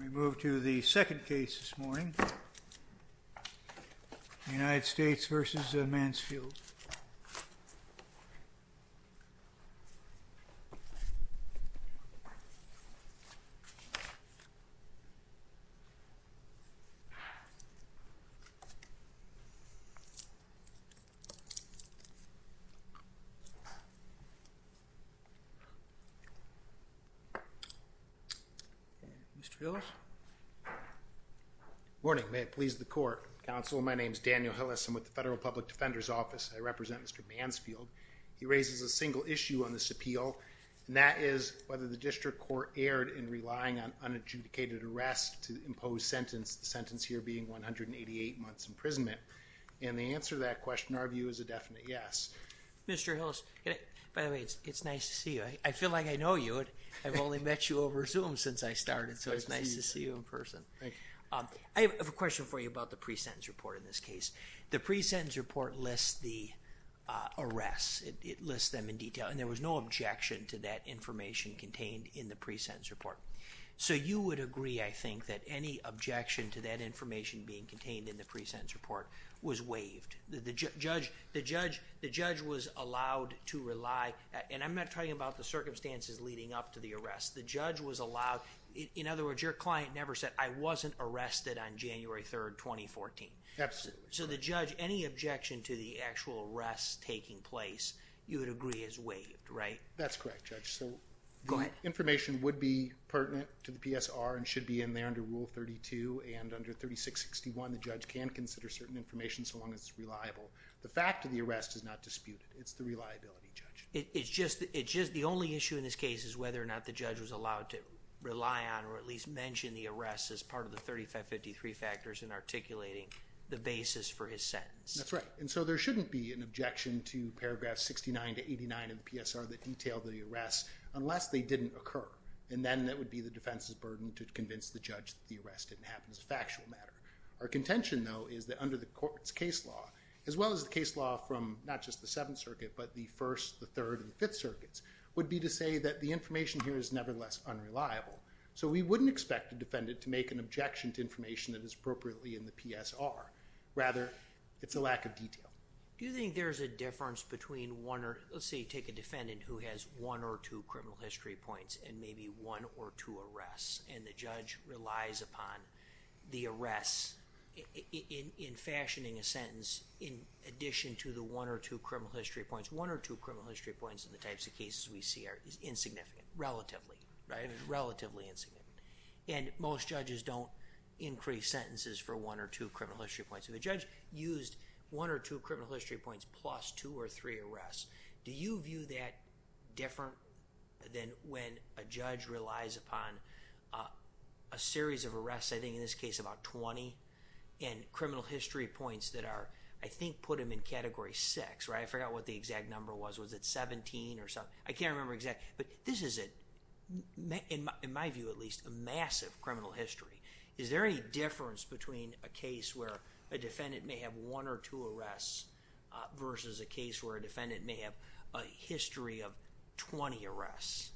We move to the second case this morning, United States v. Mansfield. Daniel Hillis Morning. May it please the court. Counsel, my name is Daniel Hillis. I'm with the Federal Public Defender's Office. I represent Mr. Mansfield. He raises a single issue on this appeal, and that is whether the district court erred in relying on unadjudicated arrest to impose sentence, the sentence here being 188 months imprisonment. And the answer to that question, our view, is a definite yes. Mr. Hillis, by the way, it's nice to see you. I feel like I know you. I've only met you over Zoom since I started, so it's nice to see you in person. I have a question for you about the pre-sentence report in this case. The pre-sentence report lists the arrests. It lists them in detail, and there was no objection to that information contained in the pre-sentence report. So you would agree, I think, that any objection to that information being contained in the pre-sentence report was waived. The judge was allowed to rely on, and I'm not talking about the circumstances leading up to the arrest. The judge was allowed, in other words, your client never said, I wasn't arrested on January 3rd, 2014. Absolutely. So the judge, any objection to the actual arrest taking place, you would agree, is waived, right? That's correct, Judge. Go ahead. So the information would be pertinent to the PSR and should be in there under Rule 32, and under 3661, the judge can consider certain information so long as it's reliable. The fact of the arrest is not disputed. It's the reliability, Judge. It's just the only issue in this case is whether or not the judge was allowed to rely on or at least mention the arrest as part of the 3553 factors in articulating the basis for his sentence. That's right. And so there shouldn't be an objection to paragraph 69 to 89 of the PSR that detailed the arrest unless they didn't occur. And then that would be the defense's burden to convince the judge that the arrest didn't happen as a factual matter. Our contention, though, is that under the court's case law, as well as the case law from not just the 3rd and 5th circuits, would be to say that the information here is nevertheless unreliable. So we wouldn't expect a defendant to make an objection to information that is appropriately in the PSR. Rather, it's a lack of detail. Do you think there's a difference between one or, let's say, take a defendant who has one or two criminal history points and maybe one or two arrests, and the judge relies upon the arrests in fashioning a sentence in addition to the one or two criminal history points, one or two criminal history points in the types of cases we see are insignificant, relatively, right? Relatively insignificant. And most judges don't increase sentences for one or two criminal history points. If a judge used one or two criminal history points plus two or three arrests, do you view that differently than when a judge relies upon a series of arrests, I think in this case about 20, and criminal history points that are, I think, put him in Category 6, right? I forgot what the exact number was. Was it 17 or something? I can't remember exactly. But this is, in my view at least, a massive criminal history. Is there any difference between a case where a defendant may have one or two arrests versus a case where a defendant may have a history of 20 arrests?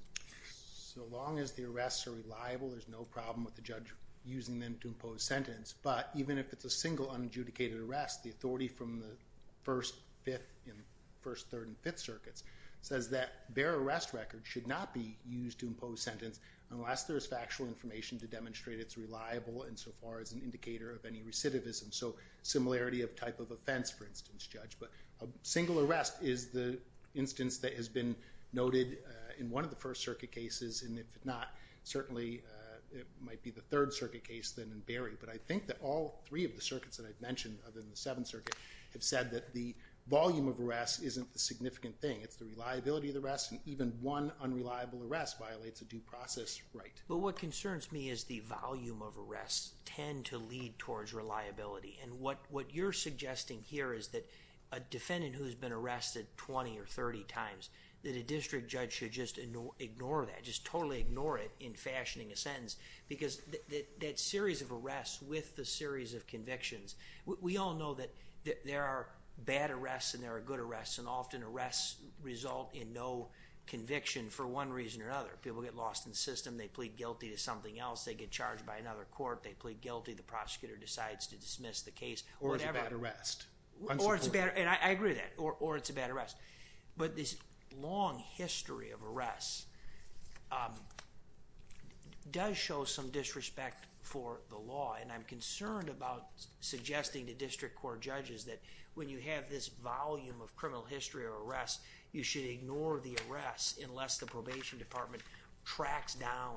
So long as the arrests are reliable, there's no problem with the judge using them to impose a sentence. But even if it's a single unadjudicated arrest, the authority from the First, Fifth, and First, Third, and Fifth Circuits says that their arrest record should not be used to impose sentence unless there's factual information to demonstrate it's reliable insofar as an indicator of any recidivism. So similarity of type of offense, for instance, judge. But a single arrest is the instance that has been noted in one of the First Circuit cases, and if not, certainly it might be the Third Circuit case then in Berry. But I think that all three of the circuits that I've mentioned, other than the Seventh Circuit, have said that the volume of arrests isn't the significant thing. It's the reliability of the arrests, and even one unreliable arrest violates a due process right. But what concerns me is the volume of arrests tend to lead towards reliability. And what you're suggesting here is that a defendant who has been arrested 20 or 30 times, that the district judge should just ignore that, just totally ignore it in fashioning a sentence. Because that series of arrests with the series of convictions, we all know that there are bad arrests and there are good arrests, and often arrests result in no conviction for one reason or another. People get lost in the system, they plead guilty to something else, they get charged by another court, they plead guilty, the prosecutor decides to dismiss the case, whatever. Or it's a bad arrest. Or it's a bad arrest, and I agree with that, or it's a bad arrest. But this long history of arrests does show some disrespect for the law, and I'm concerned about suggesting to district court judges that when you have this volume of criminal history of arrests, you should ignore the arrests unless the probation department tracks down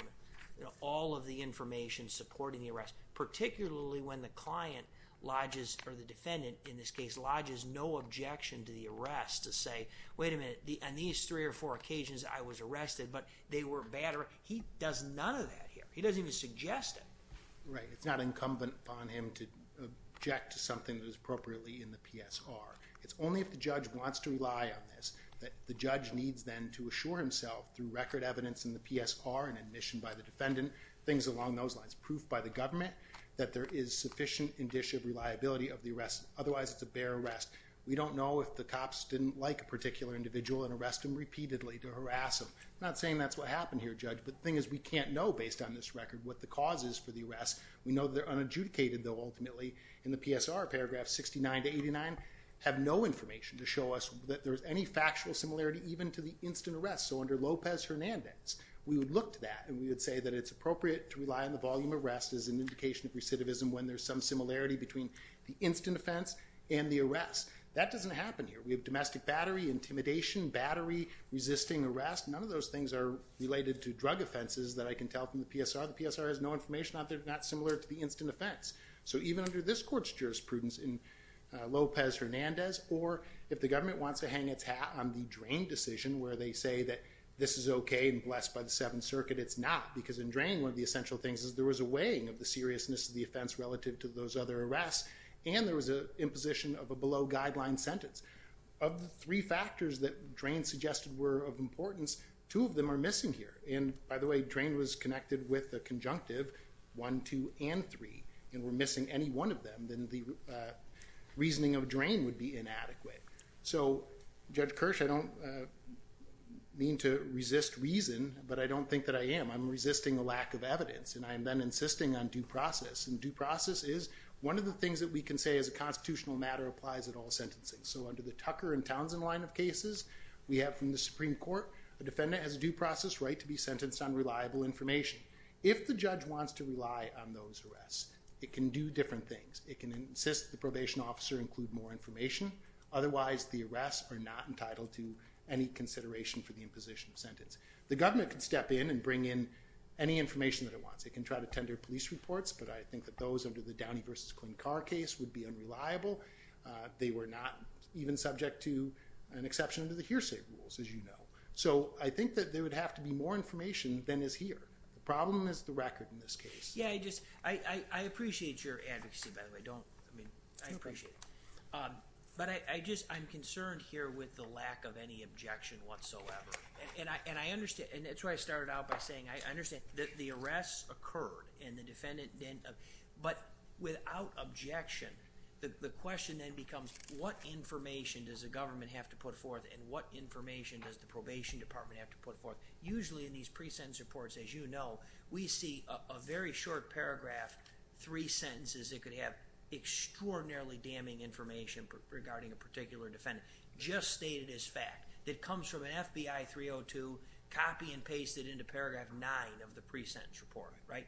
all of the information supporting the arrest. Particularly when the client lodges, or the defendant in this case, lodges no objection to the arrest to say, wait a minute, on these three or four occasions I was arrested, but they were bad arrests. He does none of that here. He doesn't even suggest it. Right. It's not incumbent upon him to object to something that was appropriately in the PSR. It's only if the judge wants to rely on this that the judge needs then to assure himself through record evidence in the PSR and admission by the defendant, things along those lines. Proof by the government that there is sufficient indicia of reliability of the arrest. Otherwise, it's a bare arrest. We don't know if the cops didn't like a particular individual and arrest them repeatedly to harass them. Not saying that's what happened here, Judge, but the thing is we can't know based on this record what the cause is for the arrest. We know they're unadjudicated, though, ultimately, in the PSR. Paragraphs 69 to 89 have no information to show us that there's any factual similarity even to the instant arrest. So under Lopez Hernandez, we would look to that and we would say that it's appropriate to rely on the volume of arrests as an indication of recidivism when there's some similarity between the instant offense and the arrest. That doesn't happen here. We have domestic battery, intimidation, battery, resisting arrest. None of those things are related to drug offenses that I can tell from the PSR. The PSR has no information on it. They're not similar to the instant offense. So even under this court's jurisprudence in Lopez Hernandez or if the government wants to hang its hat on the Drain decision where they say that this is okay and blessed by the Seventh Circuit, it's not. Because in Drain, one of the essential things is there was a weighing of the seriousness of the offense relative to those other arrests and there was an imposition of a below-guideline sentence. Of the three factors that Drain suggested were of importance, two of them are missing here. And by the way, Drain was connected with a conjunctive, one, two, and three, and were missing any one of them, then the reasoning of Drain would be inadequate. So, Judge Kirsch, I don't mean to resist reason, but I don't think that I am. I'm resisting a lack of evidence and I am then insisting on due process. And due process is one of the things that we can say as a constitutional matter applies at all sentencing. So under the Tucker and Townsend line of cases, we have from the Supreme Court, a defendant has a due process right to be sentenced on reliable information. If the judge wants to rely on those arrests, it can do different things. It can insist the probation officer include more information, otherwise the arrests are not entitled to any consideration for the imposition of sentence. The government can step in and bring in any information that it wants. It can try to tender police reports, but I think that those under the Downey v. Quinn Carr case would be unreliable. They were not even subject to an exception to the hearsay rules, as you know. So I think that there would have to be more information than is here. The problem is the record in this case. I appreciate your advocacy, by the way. I appreciate it. But I'm concerned here with the lack of any objection whatsoever. And I understand, and that's why I started out by saying I understand that the arrests occurred and the defendant did. But without objection, the question then becomes what information does the government have to put forth and what information does the probation department have to put forth? Usually in these pre-sentence reports, as you know, we see a very short paragraph, three sentences that could have extraordinarily damning information regarding a particular defendant, just stated as fact, that comes from an FBI 302 copy and pasted into paragraph nine of the pre-sentence report, right?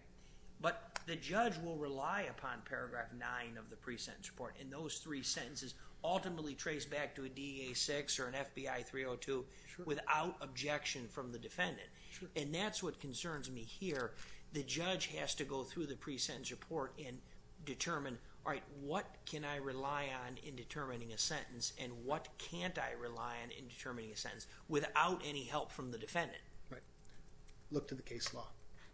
But the judge will rely upon paragraph nine of the pre-sentence report. And those three sentences ultimately trace back to a DEA 6 or an FBI 302 without objection from the defendant. And that's what concerns me here. The judge has to go through the pre-sentence report and determine, all right, what can I rely on in determining a sentence and what can't I rely on in determining a sentence without any help from the defendant? Right. Look to the case law.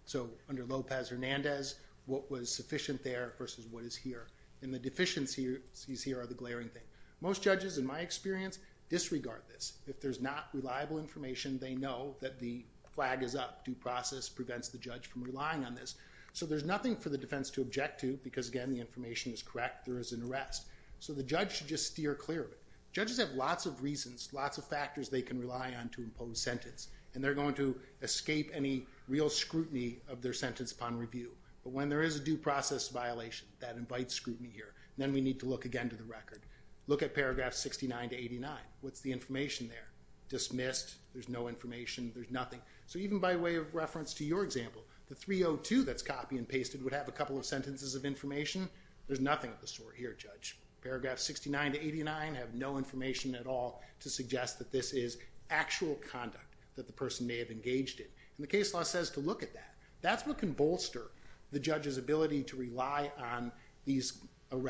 So under Lopez Hernandez, what was sufficient there versus what is here. And the deficiencies here are the glaring thing. Most judges, in my experience, disregard this. If there's not reliable information, they know that the flag is up. Due process prevents the judge from relying on this. So there's nothing for the defense to object to, because again, the information is correct. There is an arrest. So the judge should just steer clear of it. Judges have lots of reasons, lots of factors they can rely on to impose sentence, and they're going to escape any real scrutiny of their sentence upon review. But when there is a due process violation that invites scrutiny here, then we need to look again to the record. Look at paragraph 69 to 89. What's the information there? Dismissed. There's no information. There's nothing. So even by way of reference to your example, the 302 that's copy and pasted would have a couple of sentences of information. There's nothing of the sort here, Judge. Paragraph 69 to 89 have no information at all to suggest that this is actual conduct that the person may have engaged in. And the case law says to look at that. That's what can bolster the judge's ability to rely on these things. And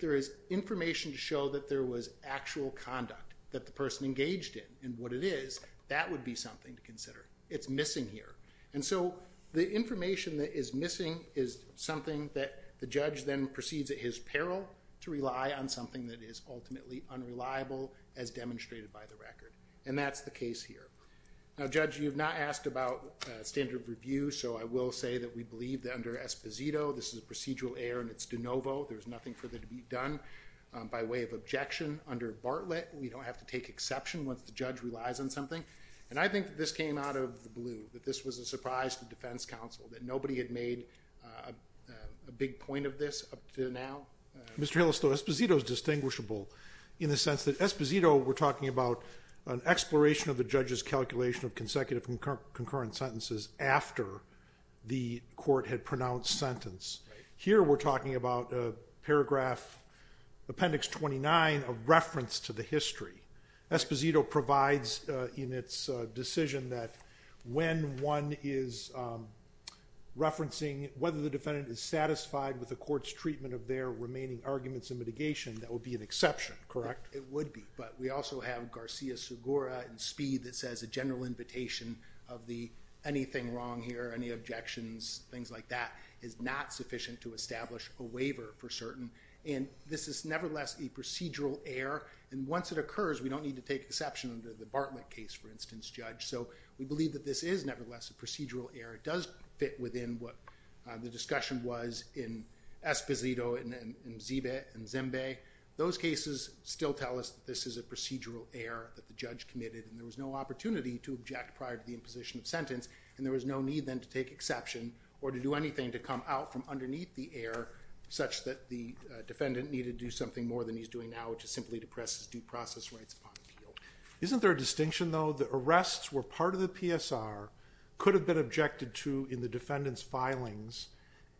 so the information that is missing is something that the judge then proceeds at his peril to rely on something that is ultimately unreliable, as demonstrated by the record. And that's the case here. Now, Judge, you have not asked about standard review, so I will say that we believe that under Esposito, this is a procedural error and it's de novo. There's nothing further to be done. By way of objection, under Bartlett, we don't have to take exception once the judge relies on something. And I think this came out of the blue, that this was a surprise to defense counsel, that nobody had made a big point of this up to now. Mr. Hillis, though, Esposito is distinguishable in the sense that Esposito, we're talking about an exploration of the judge's calculation of consecutive concurrent sentences after the court had paragraph, appendix 29, a reference to the history. Esposito provides in its decision that when one is referencing whether the defendant is satisfied with the court's treatment of their remaining arguments and mitigation, that would be an exception, correct? It would be, but we also have Garcia-Segura in Speed that says a general invitation of the anything wrong here, any objections, things like that is not sufficient to establish a waiver for certain. And this is nevertheless a procedural error. And once it occurs, we don't need to take exception under the Bartlett case, for instance, judge. So we believe that this is nevertheless a procedural error. It does fit within what the discussion was in Esposito and Zimbe. Those cases still tell us that this is a procedural error that the judge committed and there was no opportunity to object prior to the imposition of sentence. And there was no need then to take the error such that the defendant needed to do something more than he's doing now, which is simply to press his due process rights upon the appeal. Isn't there a distinction though, that arrests were part of the PSR could have been objected to in the defendant's filings.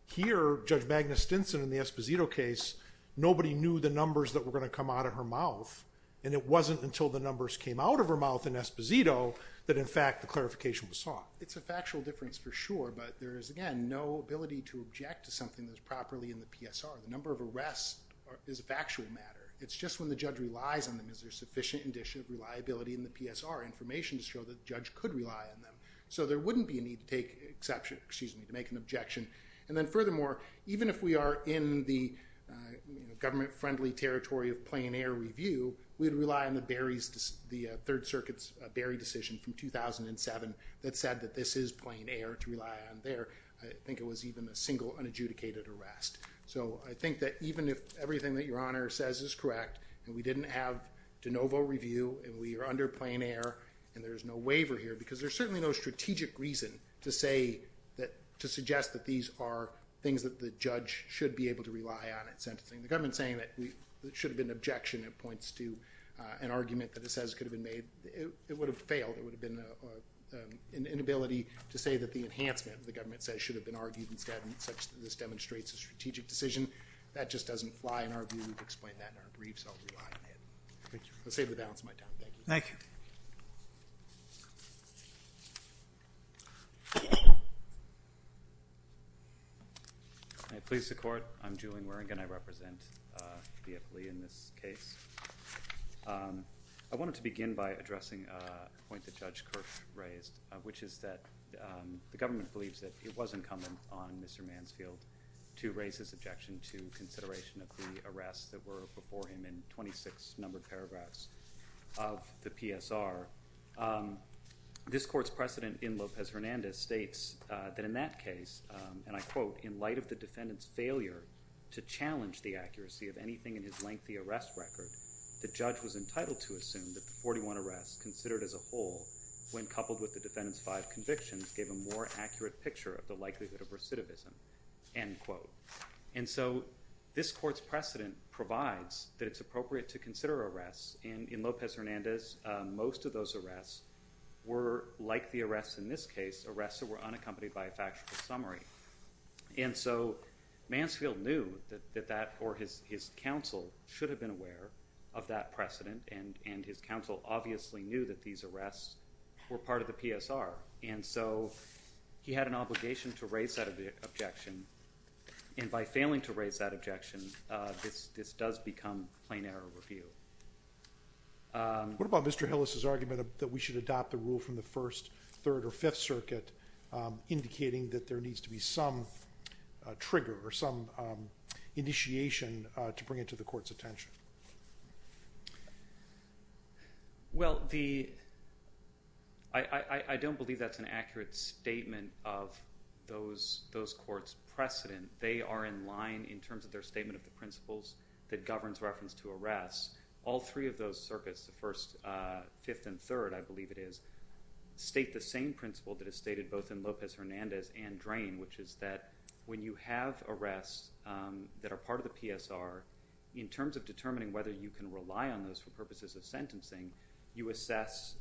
Here, judge Magnus Stinson in the Esposito case, nobody knew the numbers that were going to come out of her mouth. And it wasn't until the numbers came out of her mouth in Esposito that in fact, the clarification was sought. It's a factual difference for sure. But there is again, no ability to object to something that's properly in the PSR. The number of arrests is a factual matter. It's just when the judge relies on them, is there sufficient indicia of reliability in the PSR information to show that the judge could rely on them. So there wouldn't be a need to take exception, excuse me, to make an objection. And then furthermore, even if we are in the government friendly territory of plein air review, we'd rely on the Barry's, the Third Circuit's Barry decision from 2007, that said that this is plein air to rely on there. I think it was even a single unadjudicated arrest. So I think that even if everything that Your Honor says is correct, and we didn't have de novo review, and we are under plein air, and there's no waiver here, because there's certainly no strategic reason to say that to suggest that these are things that the judge should be able to rely on in sentencing. The argument that it says could have been made, it would have failed. It would have been an inability to say that the enhancement the government says should have been argued instead, and such that this demonstrates a strategic decision. That just doesn't fly in our view to explain that in our briefs. I'll rely on it. Thank you. I'll save the balance of my time. Thank you. I please the court. I'm Julian Waring, and I represent the FLEA in this case. I wanted to begin by addressing a point that Judge Kirk raised, which is that the government believes that it was incumbent on Mr. Mansfield to raise his objection to consideration of the arrests that were before him in 26 numbered paragraphs of the PSR. This court's precedent in Lopez Hernandez states that in that case, and I quote, in light of the defendant's failure to challenge the accuracy of anything in his lengthy arrest record, the judge was entitled to assume that the 41 arrests considered as a whole, when coupled with the defendant's five convictions, gave a more accurate picture of the likelihood of recidivism, end quote. And so this court's precedent provides that it's appropriate to consider arrests, and in Lopez Hernandez, most of those arrests were, like the arrests in this case, arrests that were unaccompanied by a factual summary. And so Mansfield knew that that, or his counsel should have been aware of that precedent, and his counsel obviously knew that these arrests were part of the PSR. And so he had an obligation to raise that objection, and by failing to raise that objection, this does become plain error review. What about Mr. Hillis' argument that we should adopt the rule from the first, third, or fifth circuit, indicating that there needs to be some trigger, or some initiation to bring it to the court's attention? Well, I don't believe that's an accurate statement of those courts' precedent. They are in line in terms of their statement of the principles that governs reference to arrests. All three of those circuits, the first, fifth, and third, I believe it is, state the same principle that is stated both in Lopez Hernandez and PSR, in terms of determining whether you can rely on those for purposes of sentencing, you assess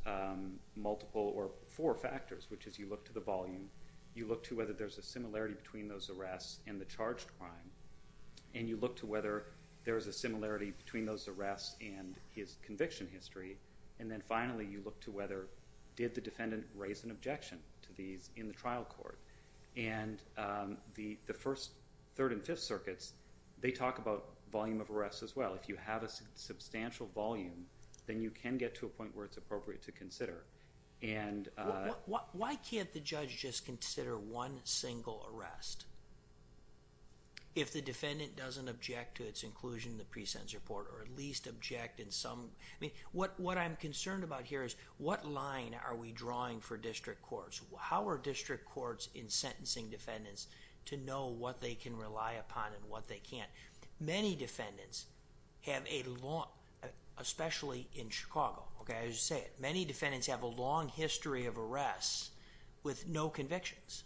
multiple, or four factors, which is you look to the volume, you look to whether there's a similarity between those arrests and the charged crime, and you look to whether there is a similarity between those arrests and his conviction history, and then finally you look to whether did the defendant raise an objection to these in the case. We talk about volume of arrests as well. If you have a substantial volume, then you can get to a point where it's appropriate to consider. Why can't the judge just consider one single arrest? If the defendant doesn't object to its inclusion in the pre-sentence report, or at least object in some... What I'm concerned about here is what line are we drawing for district courts? How are district courts in sentencing defendants to know what they can rely upon and what they can't? Many defendants have a long, especially in Chicago, as you say, many defendants have a long history of arrests with no convictions.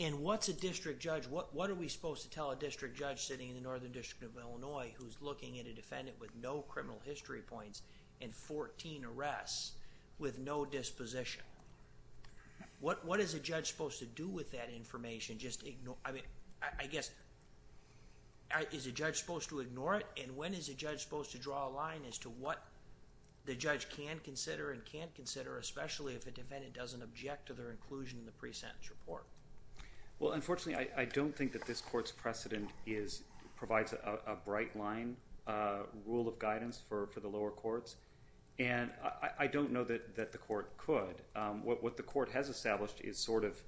And what's a district judge, what are we supposed to tell a district judge sitting in the Northern District of Illinois who's looking at a defendant with no criminal history points and 14 arrests with no disposition? What is a judge supposed to do with that information? I guess, is a judge supposed to ignore it? And when is a judge supposed to draw a line as to what the judge can consider and can't consider, especially if a defendant doesn't object to their inclusion in the pre-sentence report? Well, unfortunately, I don't think that this court's precedent provides a bright line rule of guidance for the lower courts, and I don't know that the court could. What the court has established is sort of,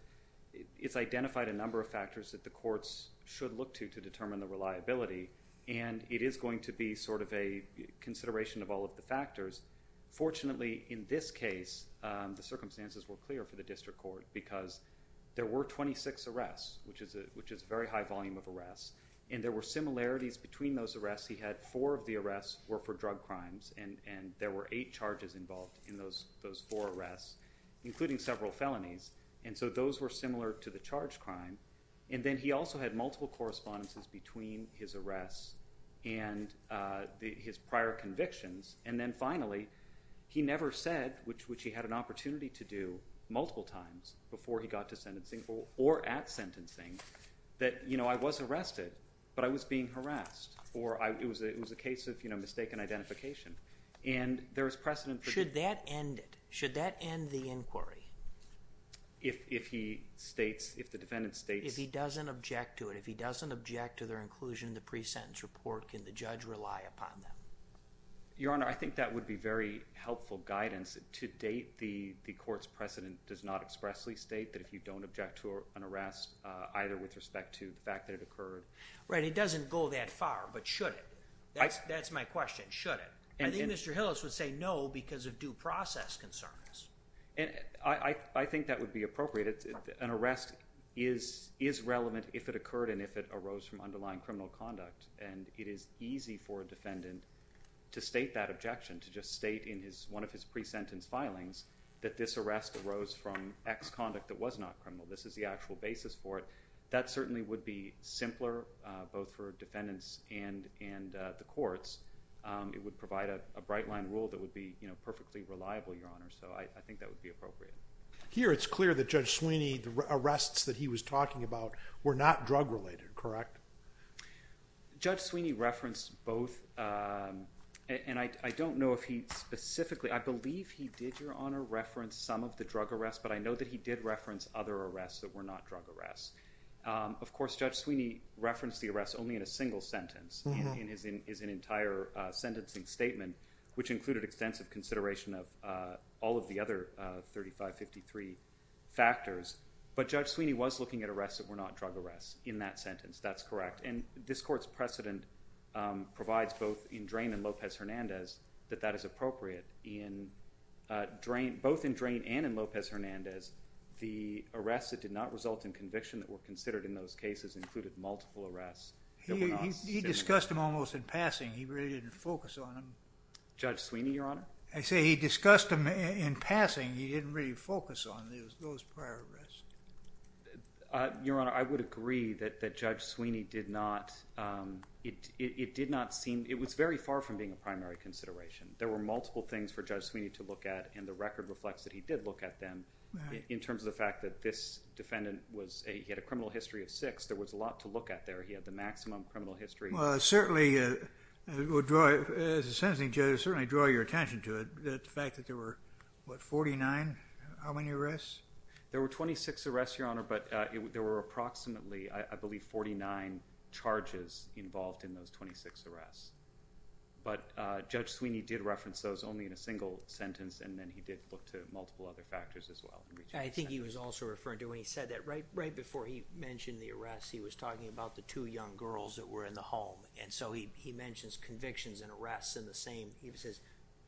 it's identified a number of factors that the courts should look to to determine the reliability, and it is going to be sort of a consideration of all of the factors. Fortunately, in this case, the circumstances were clear for the district court because there were 26 arrests, which is a very high volume of arrests, and there were similarities between those arrests. He had four of the arrests were for drug crimes, and there were eight charges involved in those four arrests, including several felonies, and so those were similar to the charge crime, and then he also had multiple correspondences between his arrests and his prior convictions, and then finally, he never said, which he had an opportunity to do multiple times before he got to the point of, you know, mistaken identification, and there is precedent for... Should that end it? Should that end the inquiry? If he states, if the defendant states... If he doesn't object to it, if he doesn't object to their inclusion in the pre-sentence report, can the judge rely upon them? Your Honor, I think that would be very helpful guidance. To date, the court's precedent does not expressly state that if you don't object to an arrest, either with respect to the fact that it occurred... Right, it doesn't go that far, but should it? That's my question, should it? I think Mr. Hillis would say no because of due process concerns. I think that would be appropriate. An arrest is relevant if it occurred and if it arose from underlying criminal conduct, and it is easy for a defendant to state that objection, to just state in one of his pre-sentence filings that this arrest arose from ex-conduct that was not criminal. This is the actual basis for it. That certainly would be simpler, both for defendants and the courts. It would provide a bright-line rule that would be, you know, perfectly reliable, Your Honor, so I think that would be appropriate. Here, it's clear that Judge Sweeney, the arrests that he was talking about were not drug-related, correct? Judge Sweeney referenced both, and I don't know if he specifically... I know that he did reference other arrests that were not drug arrests. Of course, Judge Sweeney referenced the arrests only in a single sentence, in his entire sentencing statement, which included extensive consideration of all of the other 3553 factors, but Judge Sweeney was looking at arrests that were not drug arrests in that sentence, that's correct. And this Court's precedent provides both in Drain and Lopez-Hernandez that that is appropriate. In Drain, both in Drain and in Lopez-Hernandez, the arrests that did not result in conviction that were considered in those cases included multiple arrests... He discussed them almost in passing. He really didn't focus on them. Judge Sweeney, Your Honor? I say he discussed them in passing. He didn't really focus on those prior arrests. Your Honor, I would agree that Judge Sweeney did not... it did not seem... it was very far from being a primary consideration. There were multiple things for Judge Sweeney to look at, and the record reflects that he did look at them. In terms of the fact that this defendant was... he had a criminal history of six. There was a lot to look at there. He had the maximum criminal history. Well, it certainly would draw... as a sentencing judge, it would certainly draw your attention to it. The fact that there were, what, 49? How many arrests? There were 26 arrests, Your Honor, but there were approximately, I believe, 49 charges involved in those 26 arrests. But, Judge Sweeney did reference those only in a single sentence, and then he did look to multiple other factors as well. I think he was also referring to when he said that, right before he mentioned the arrests, he was talking about the two young girls that were in the home. And so he mentions convictions and arrests in the same... he says,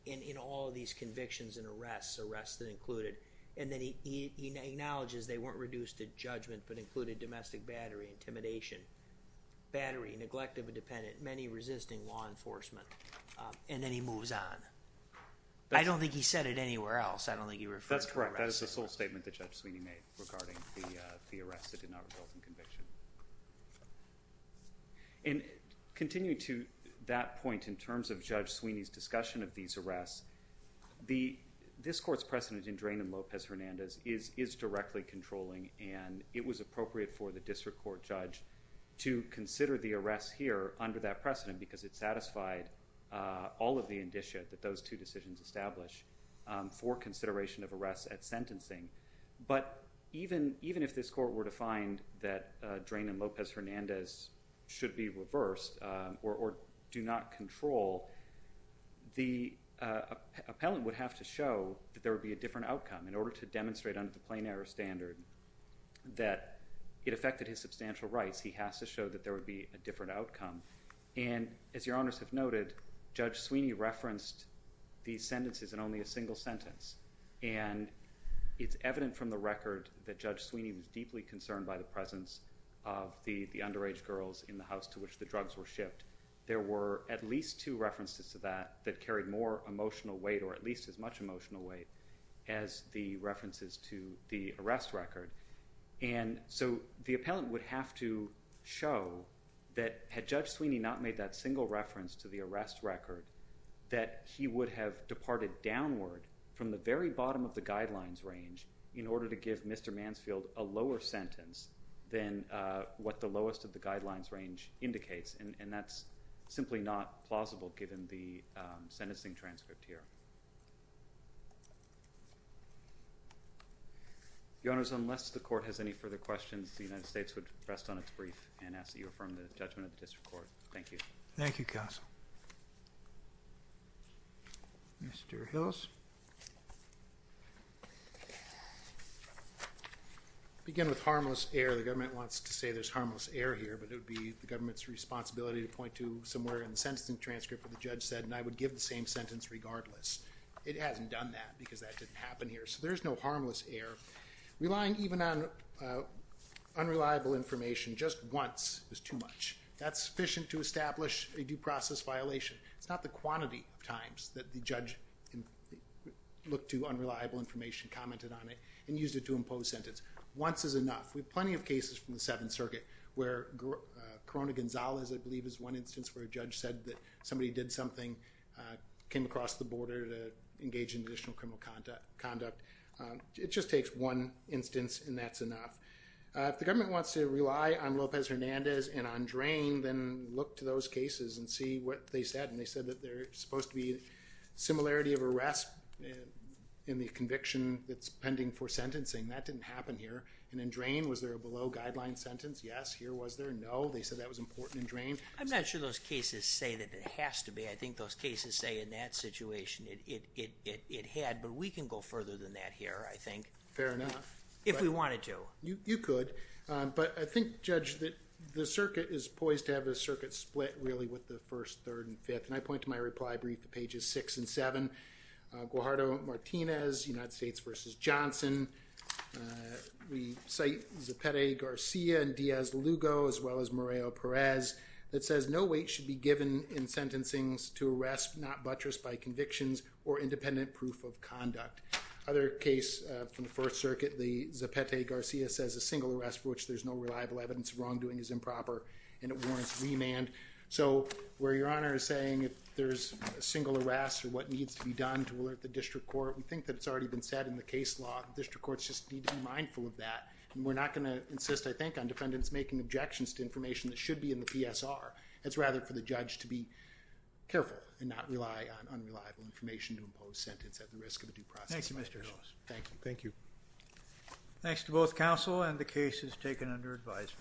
in all of these convictions and arrests, arrests that included... and then he acknowledges they weren't reduced to judgment, but included domestic battery, intimidation, battery, neglect of a dependent, many resisting law enforcement. And then he moves on. I don't think he said it anywhere else. I don't think he referred to arrests. That's correct. That is the sole statement that Judge Sweeney made regarding the arrests that did not result in conviction. And, continuing to that point, in terms of Judge Sweeney's discussion of these arrests, the... this court's precedent in Draynham-Lopez-Hernandez is directly controlling, and it was appropriate for the district court judge to consider the arrests here, under that precedent, because it satisfied all of the indicia that those two decisions establish for consideration of arrests at sentencing. But, even if this court were to find that Draynham-Lopez-Hernandez should be reversed, or do not control, the appellant would have to show that there would be a different outcome. In order to demonstrate under the plain error standard, that it affected his substantial rights, he has to show that there would be a different outcome. And, as your Honors have noted, Judge Sweeney referenced these sentences in only a single sentence. And, it's evident from the record that Judge Sweeney was deeply concerned by the presence of the underage girls in the house to which the drugs were shipped. There were at least two references to that that carried more emotional weight, or at least as much emotional weight, as the references to the arrest record. And so, the appellant would have to show that had Judge Sweeney not made that single reference to the arrest record, that he would have departed downward from the very bottom of the guidelines range, in order to give Mr. Mansfield a lower sentence than what the lowest of the guidelines range indicates. And, that's simply not plausible given the sentencing transcript here. Your Honors, unless the Court has any further questions, the United States would rest on its brief and ask that you affirm the judgment of the District Court. Thank you. Thank you, Counsel. Mr. Hillis. I'll begin with harmless error. The government wants to say there's harmless error here, but it would be the government's responsibility to point to somewhere in the sentencing transcript where the judge said, and I would give the same sentence regardless. It hasn't done that because that didn't happen here, so there's no harmless error. Relying even on unreliable information just once is too much. That's sufficient to establish a due process violation. It's not the quantity of times that the judge looked to unreliable information, commented on it, and used it to impose sentence. Once is enough. We have plenty of cases from the Seventh Circuit where Corona Gonzalez, I believe, is one instance where a judge said that somebody did something, came across the border to engage in additional criminal conduct. It just takes one instance, and that's enough. If the government wants to rely on Lopez Hernandez and on Drain, then look to those cases and see what they said. They said that there's supposed to be similarity of arrest in the conviction that's pending for sentencing. That didn't happen here. In Drain, was there a below-guideline sentence? Yes. Here, was there? No. They said that was important in Drain. I'm not sure those cases say that it has to be. I think those cases say in that situation it had, but we can go further than that here, I think. Fair enough. If we wanted to. You could, but I think, Judge, that the circuit is poised to have a circuit split, really, with the First, Third, and Fifth. I point to my reply brief at pages 6 and 7, Guajardo-Martinez, United States v. Johnson. We cite Zapete-Garcia and Diaz-Lugo, as well as Moreo-Perez, that says, or independent proof of conduct. Other case from the First Circuit, the Zapete-Garcia says a single arrest for which there's no reliable evidence of wrongdoing is improper and it warrants remand. So, where Your Honor is saying if there's a single arrest or what needs to be done to alert the district court, we think that's already been said in the case law. District courts just need to be mindful of that. We're not going to insist, I think, on defendants making objections to information that should be in the PSR. It's rather for the judge to be careful and not rely on unreliable information to impose sentence at the risk of a due process violation. Thank you. Thank you. Thanks to both counsel and the cases taken under advisement.